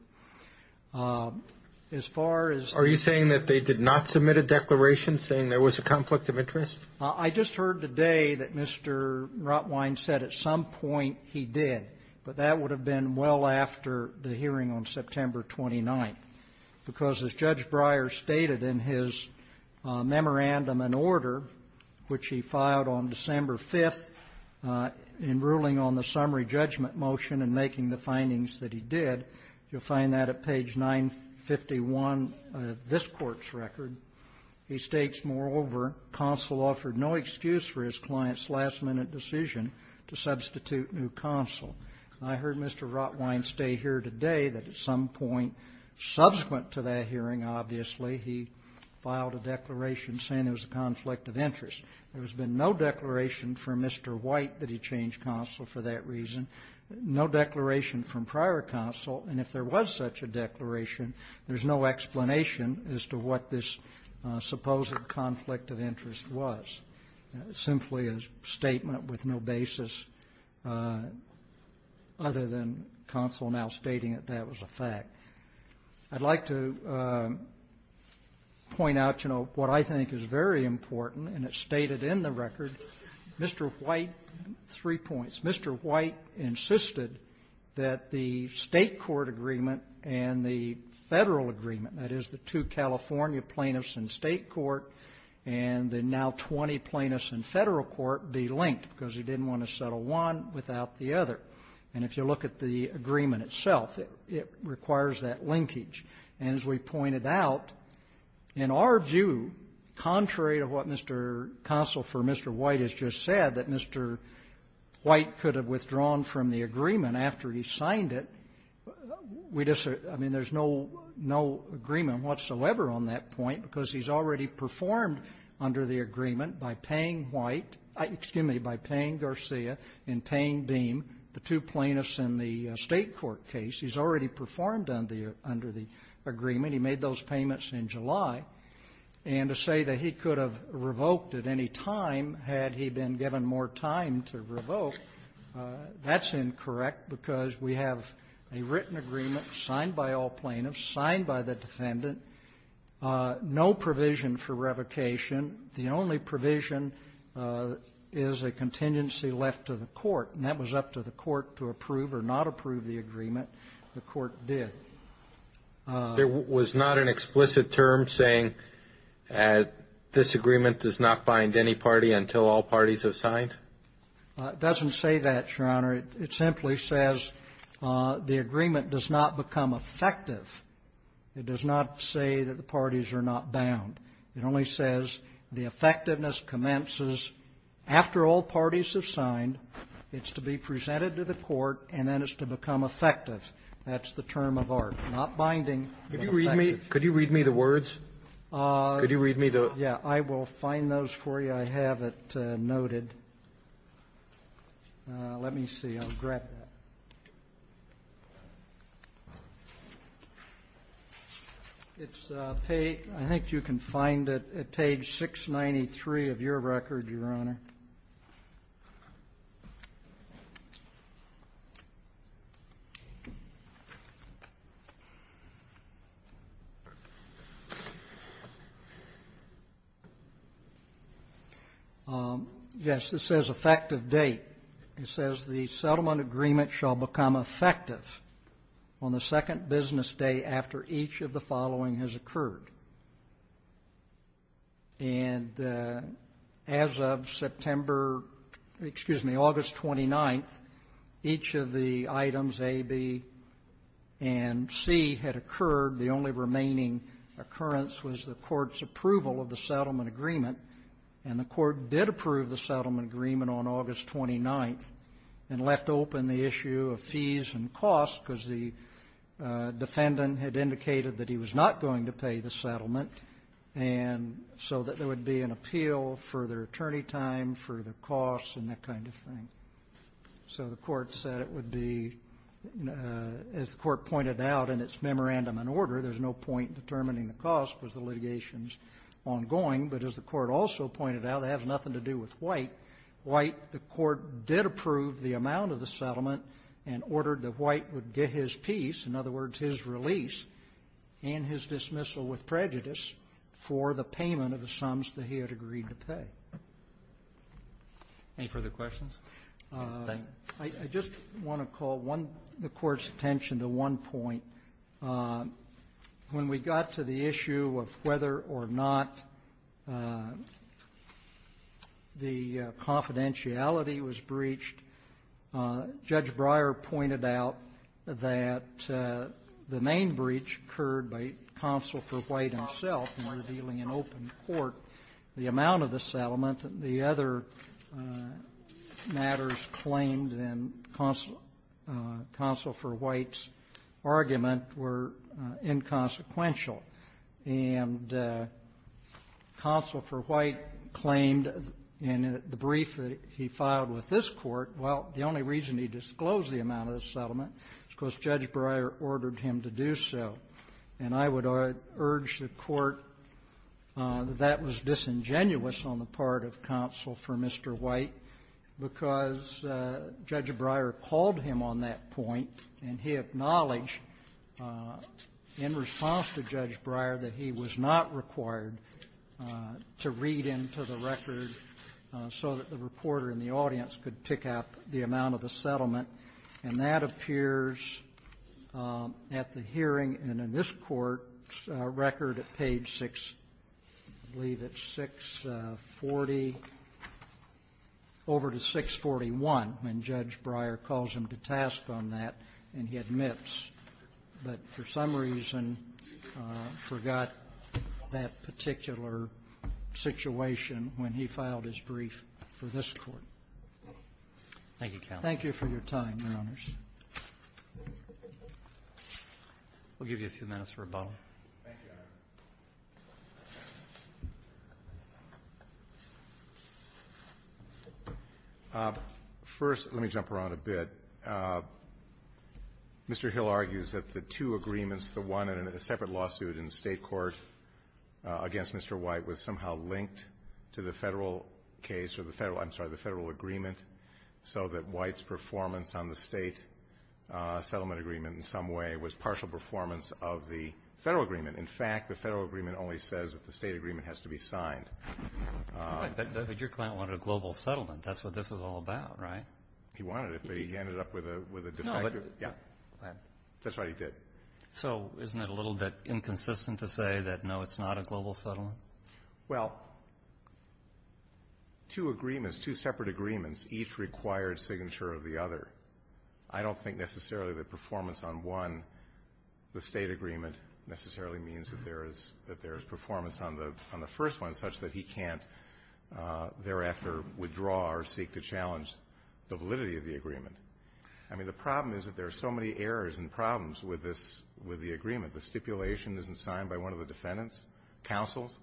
As far as the ---- Are you saying that they did not submit a declaration saying there was a conflict of interest? I just heard today that Mr. Rotwein said at some point he did. But that would have been well after the hearing on September 29th, because as Judge Breyer noted in his summary judgment order, which he filed on December 5th, in ruling on the summary judgment motion and making the findings that he did, you'll find that at page 951 of this Court's record, he states, moreover, counsel offered no excuse for his client's last-minute decision to substitute new counsel. I heard Mr. Rotwein stay here today that at some point subsequent to that hearing, obviously, he filed a declaration saying there was a conflict of interest. There has been no declaration from Mr. White that he changed counsel for that reason, no declaration from prior counsel. And if there was such a declaration, there's no explanation as to what this supposed conflict of interest was. It's simply a statement with no basis other than counsel now stating that that was a fact. I'd like to point out, you know, what I think is very important, and it's stated in the record. Mr. White, three points. Mr. White insisted that the State court agreement and the Federal agreement, that is, the two California plaintiffs in State court and the now 20 plaintiffs in Federal court, be linked, because he didn't want to settle one without the other. And if you look at the agreement itself, it requires that linkage. And as we pointed out, in our view, contrary to what Mr. Consul for Mr. White has just said, that Mr. White could have withdrawn from the agreement after he signed it, we just are — I mean, there's no — no agreement whatsoever on that point, because he's already performed under the agreement by paying White — excuse me, by paying Garcia and paying Beam, the two plaintiffs in the State court case. He's already performed under the — under the agreement. He made those payments in July. And to say that he could have revoked at any time had he been given more time to revoke, that's incorrect, because we have a written agreement signed by all plaintiffs, signed by the defendant, no provision for revocation. The only provision is a contingency left to the court. And that was up to the court to approve or not approve the agreement. The court did. There was not an explicit term saying that this agreement does not bind any party until all parties have signed? It doesn't say that, Your Honor. It simply says the agreement does not become effective. It does not say that the parties are not bound. It only says the effectiveness commences after all parties have signed. It's to be presented to the court, and then it's to become effective. That's the term of art. Not binding, but effective. Could you read me the words? Could you read me the — Yeah. I will find those for you. I have it noted. Let me see. I'll grab that. It's page — I think you can find it at page 693 of your record, Your Honor. Yes, this says effective date. It says the settlement agreement shall become effective on the second business day after each of the following has occurred. And as of September — excuse me, August 29th, each of the items A, B, and C had occurred. The only remaining occurrence was the court's approval of the settlement agreement, and the court did approve the settlement agreement on August 29th and left open the issue of fees and costs because the defendant had indicated that he was not going to pay the settlement, and so that there would be an appeal for their attorney time, for their costs, and that kind of thing. So the court said it would be — as the court pointed out in its memorandum and order, there's no point in determining the cost because the litigation's ongoing, but as the court also pointed out, it has nothing to do with White. White — the court did approve the amount of the settlement and ordered that White would get his piece, in other words, his release, and his dismissal with prejudice for the payment of the sums that he had agreed to pay. Any further questions? I just want to call one — the court's attention to one point. When we got to the issue of whether or not the confidentiality was breached, Judge Breyer pointed out that the main breach occurred by Counsel for White himself in revealing in open court the amount of the settlement, and the other matters claimed in Counsel — Counsel for White's argument that the amount of the settlement were inconsequential. And Counsel for White claimed in the brief that he filed with this Court, well, the only reason he disclosed the amount of the settlement was because Judge Breyer ordered him to do so. And I would urge the Court that that was disingenuous on the part of Counsel for Mr. White, because Judge Breyer called him on that point, and he acknowledged in response to Judge Breyer that he was not required to read into the record so that the reporter in the audience could pick up the amount of the settlement. And that appears at the hearing and in this Court's record at page 6 — I believe it's 640 — over to 641, when Judge Breyer calls him to task on that, and he admits. But for some reason, forgot that particular situation when he filed his brief for this Court. Thank you for your time, Your Honors. We'll give you a few minutes for a bottle. First, let me jump around a bit. Mr. Hill argues that the two agreements, the one in a separate lawsuit in the State court against Mr. White, was somehow linked to the Federal case or the Federal — I'm sorry, the Federal agreement so that White's performance on the State settlement agreement in some way was partial performance of the Federal agreement. In fact, the Federal agreement only says that the State agreement has to be signed. But your client wanted a global settlement. That's what this is all about, right? He wanted it, but he ended up with a defective — No, but — Yeah. Go ahead. That's right, he did. So isn't it a little bit inconsistent to say that, no, it's not a global settlement? Well, two agreements, two separate agreements, each required signature of the other. I don't think necessarily that performance on one, the State agreement, necessarily means that there is performance on the first one such that he can't thereafter withdraw or seek to challenge the validity of the agreement. I mean, the problem is that there are so many errors and problems with this — with the agreement. The stipulation isn't signed by one of the defendants, counsels.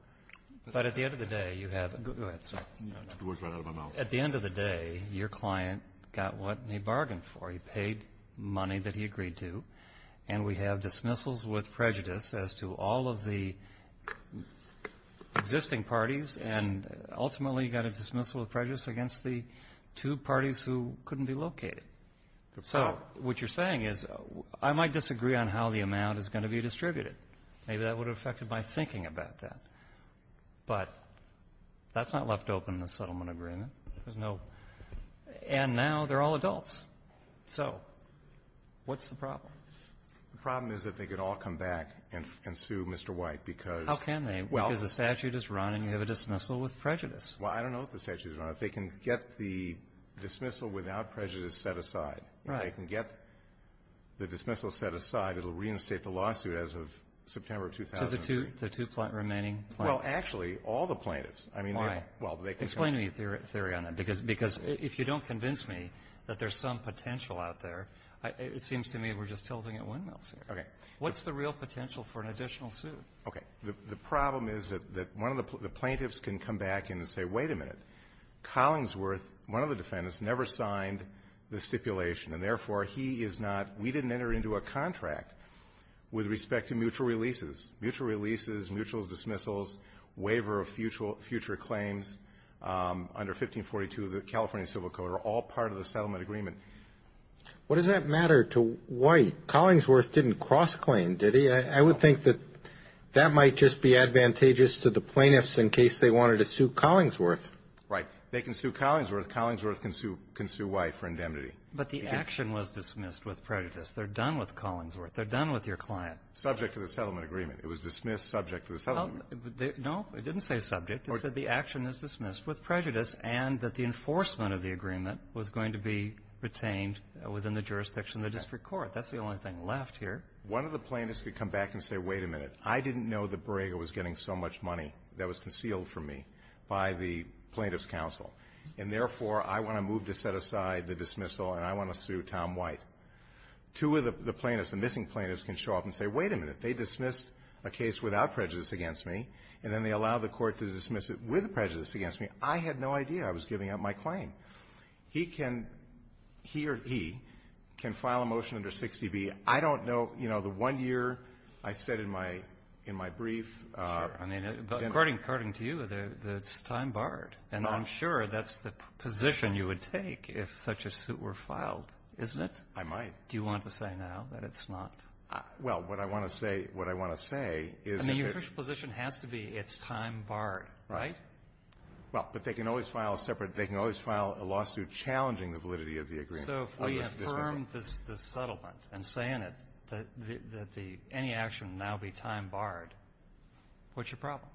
But at the end of the day, you have — Go ahead, sir. I took the words right out of my mouth. At the end of the day, your client got what he bargained for. He paid money that he agreed to, and we have dismissals with prejudice as to all of the existing parties, and ultimately, you got a dismissal of prejudice against the two parties who couldn't be located. So what you're saying is, I might disagree on how the amount is going to be distributed. Maybe that would have affected my thinking about that. But that's not left open in the settlement agreement. There's no — and now they're all adults. So what's the problem? The problem is that they could all come back and sue Mr. White because — How can they? Well — Because the statute is run and you have a dismissal with prejudice. Well, I don't know if the statute is run. If they can get the dismissal without prejudice set aside — Right. If they can get the dismissal set aside, it'll reinstate the lawsuit as of September 2003. So the two remaining plaintiffs? Well, actually, all the plaintiffs. I mean, they're — Why? Well, they can — Explain to me your theory on that, because if you don't convince me that there's some potential out there, it seems to me we're just tilting at windmills here. Okay. What's the real potential for an additional suit? Okay. The problem is that one of the plaintiffs can come back and say, wait a minute, Collingsworth, one of the defendants, never signed the stipulation, and therefore he is not — we didn't enter into a contract with respect to mutual releases. Mutual releases, mutual dismissals, waiver of future claims under 1542 of the California Civil Code are all part of the settlement agreement. What does that matter to White? Collingsworth didn't cross-claim, did he? I would think that that might just be advantageous to the plaintiffs in case they wanted to sue Collingsworth. Right. They can sue Collingsworth. Collingsworth can sue — can sue White for indemnity. But the action was dismissed with prejudice. They're done with Collingsworth. They're done with your client. Subject to the settlement agreement. It was dismissed subject to the settlement agreement. No. It didn't say subject. It said the action is dismissed with prejudice and that the enforcement of the agreement was going to be retained within the jurisdiction of the district court. Okay. That's the only thing left here. One of the plaintiffs could come back and say, wait a minute, I didn't know that Borrego was getting so much money that was concealed from me by the plaintiff's counsel, and, therefore, I want to move to set aside the dismissal and I want to sue Tom White. Two of the plaintiffs, the missing plaintiffs, can show up and say, wait a minute, they dismissed a case without prejudice against me, and then they allow the court to dismiss it with prejudice against me. I had no idea I was giving up my claim. He can — he or he can file a motion under 60B. I don't know. You know, the one year I said in my — in my brief — Sure. I mean, according to you, it's time barred. No. And I'm sure that's the position you would take if such a suit were filed, isn't it? I might. Do you want to say now that it's not? Well, what I want to say — what I want to say is — I mean, your position has to be it's time barred, right? Well, but they can always file a separate — they can always file a lawsuit challenging the validity of the agreement. So if we affirm this settlement and say in it that the — that the — any action will now be time barred, what's your problem?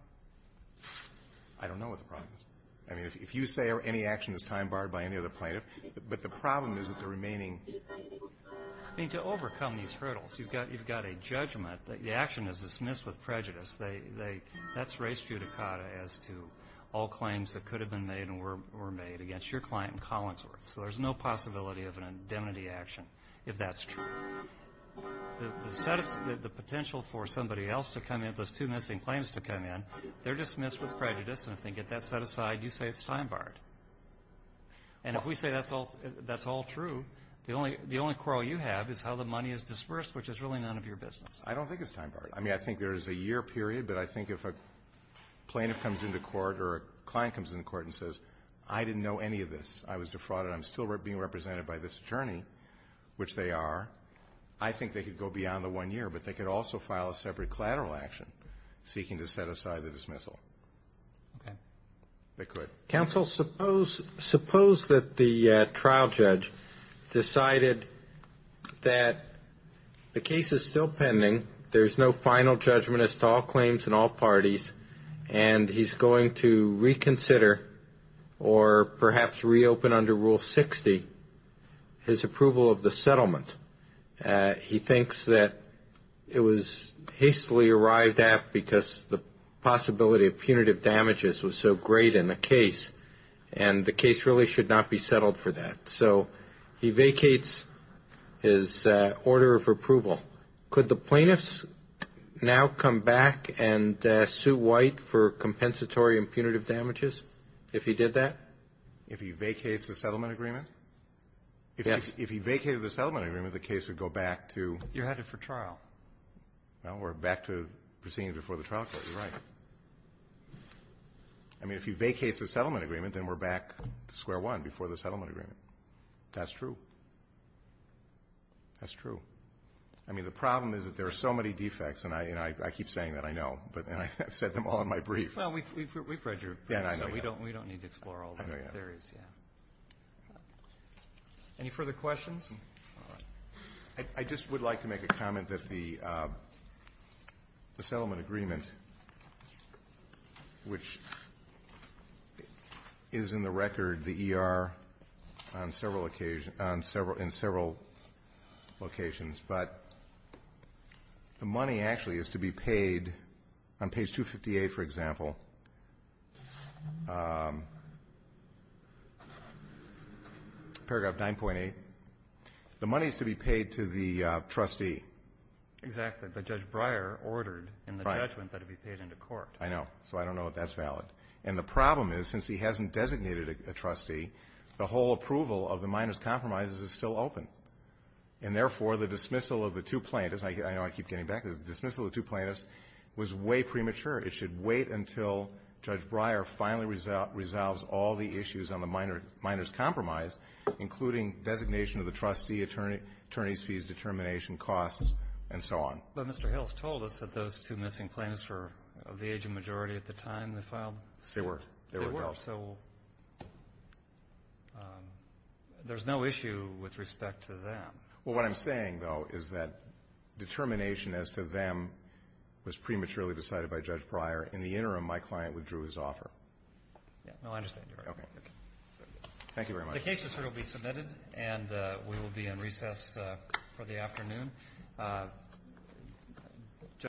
I don't know what the problem is. I mean, if you say any action is time barred by any other plaintiff, but the problem is that the remaining — I mean, to overcome these hurdles, you've got — you've got a judgment that the action is dismissed with prejudice. They — that's res judicata as to all claims that could have been made and were made against your client in Collinsworth. So there's no possibility of an indemnity action if that's true. The — the potential for somebody else to come in, those two missing claims to come in, they're dismissed with prejudice. And if they get that set aside, you say it's time barred. And if we say that's all — that's all true, the only — the only quarrel you have is how the money is dispersed, which is really none of your business. I don't think it's time barred. I mean, I think there's a year period, but I think if a plaintiff comes into court or a client comes into court and says, I didn't know any of this, I was defrauded, I'm still being represented by this attorney, which they are, I think they could go beyond the one year, but they could also file a separate collateral action seeking to set aside the dismissal. Okay. They could. Counsel, suppose — suppose that the trial judge decided that the case is still pending, there's no final judgment as to all claims in all parties, and he's going to reconsider or perhaps reopen under Rule 60 his approval of the settlement. He thinks that it was hastily arrived at because the possibility of punitive damages was so great in the case, and the case really should not be settled for that. So he vacates his order of approval. Could the plaintiffs now come back and sue White for compensatory and punitive damages if he did that? If he vacates the settlement agreement? Yes. If he vacated the settlement agreement, the case would go back to — You're headed for trial. Well, we're back to proceeding before the trial court. You're right. I mean, if he vacates the settlement agreement, then we're back to square one, before the settlement agreement. That's true. That's true. I mean, the problem is that there are so many defects, and I keep saying that, I know, and I've said them all in my brief. Well, we've read your brief, so we don't need to explore all the theories. Any further questions? I just would like to make a comment that the settlement agreement, which is in the But the money actually is to be paid on page 258, for example, paragraph 9.8. The money is to be paid to the trustee. Exactly. But Judge Breyer ordered in the judgment that it be paid into court. I know. So I don't know if that's valid. And the problem is, since he hasn't designated a trustee, the whole approval of the minor's compromises is still open. And therefore, the dismissal of the two plaintiffs, I know I keep getting back, the dismissal of the two plaintiffs was way premature. It should wait until Judge Breyer finally resolves all the issues on the minor's compromise, including designation of the trustee, attorney's fees, determination, costs, and so on. But Mr. Hills told us that those two missing plaintiffs were of the aging majority at the time they filed. They were. They were. So there's no issue with respect to them. Well, what I'm saying, though, is that determination as to them was prematurely decided by Judge Breyer. In the interim, my client withdrew his offer. Yeah. No, I understand. Okay. Thank you very much. The case is here to be submitted, and we will be in recess for the afternoon.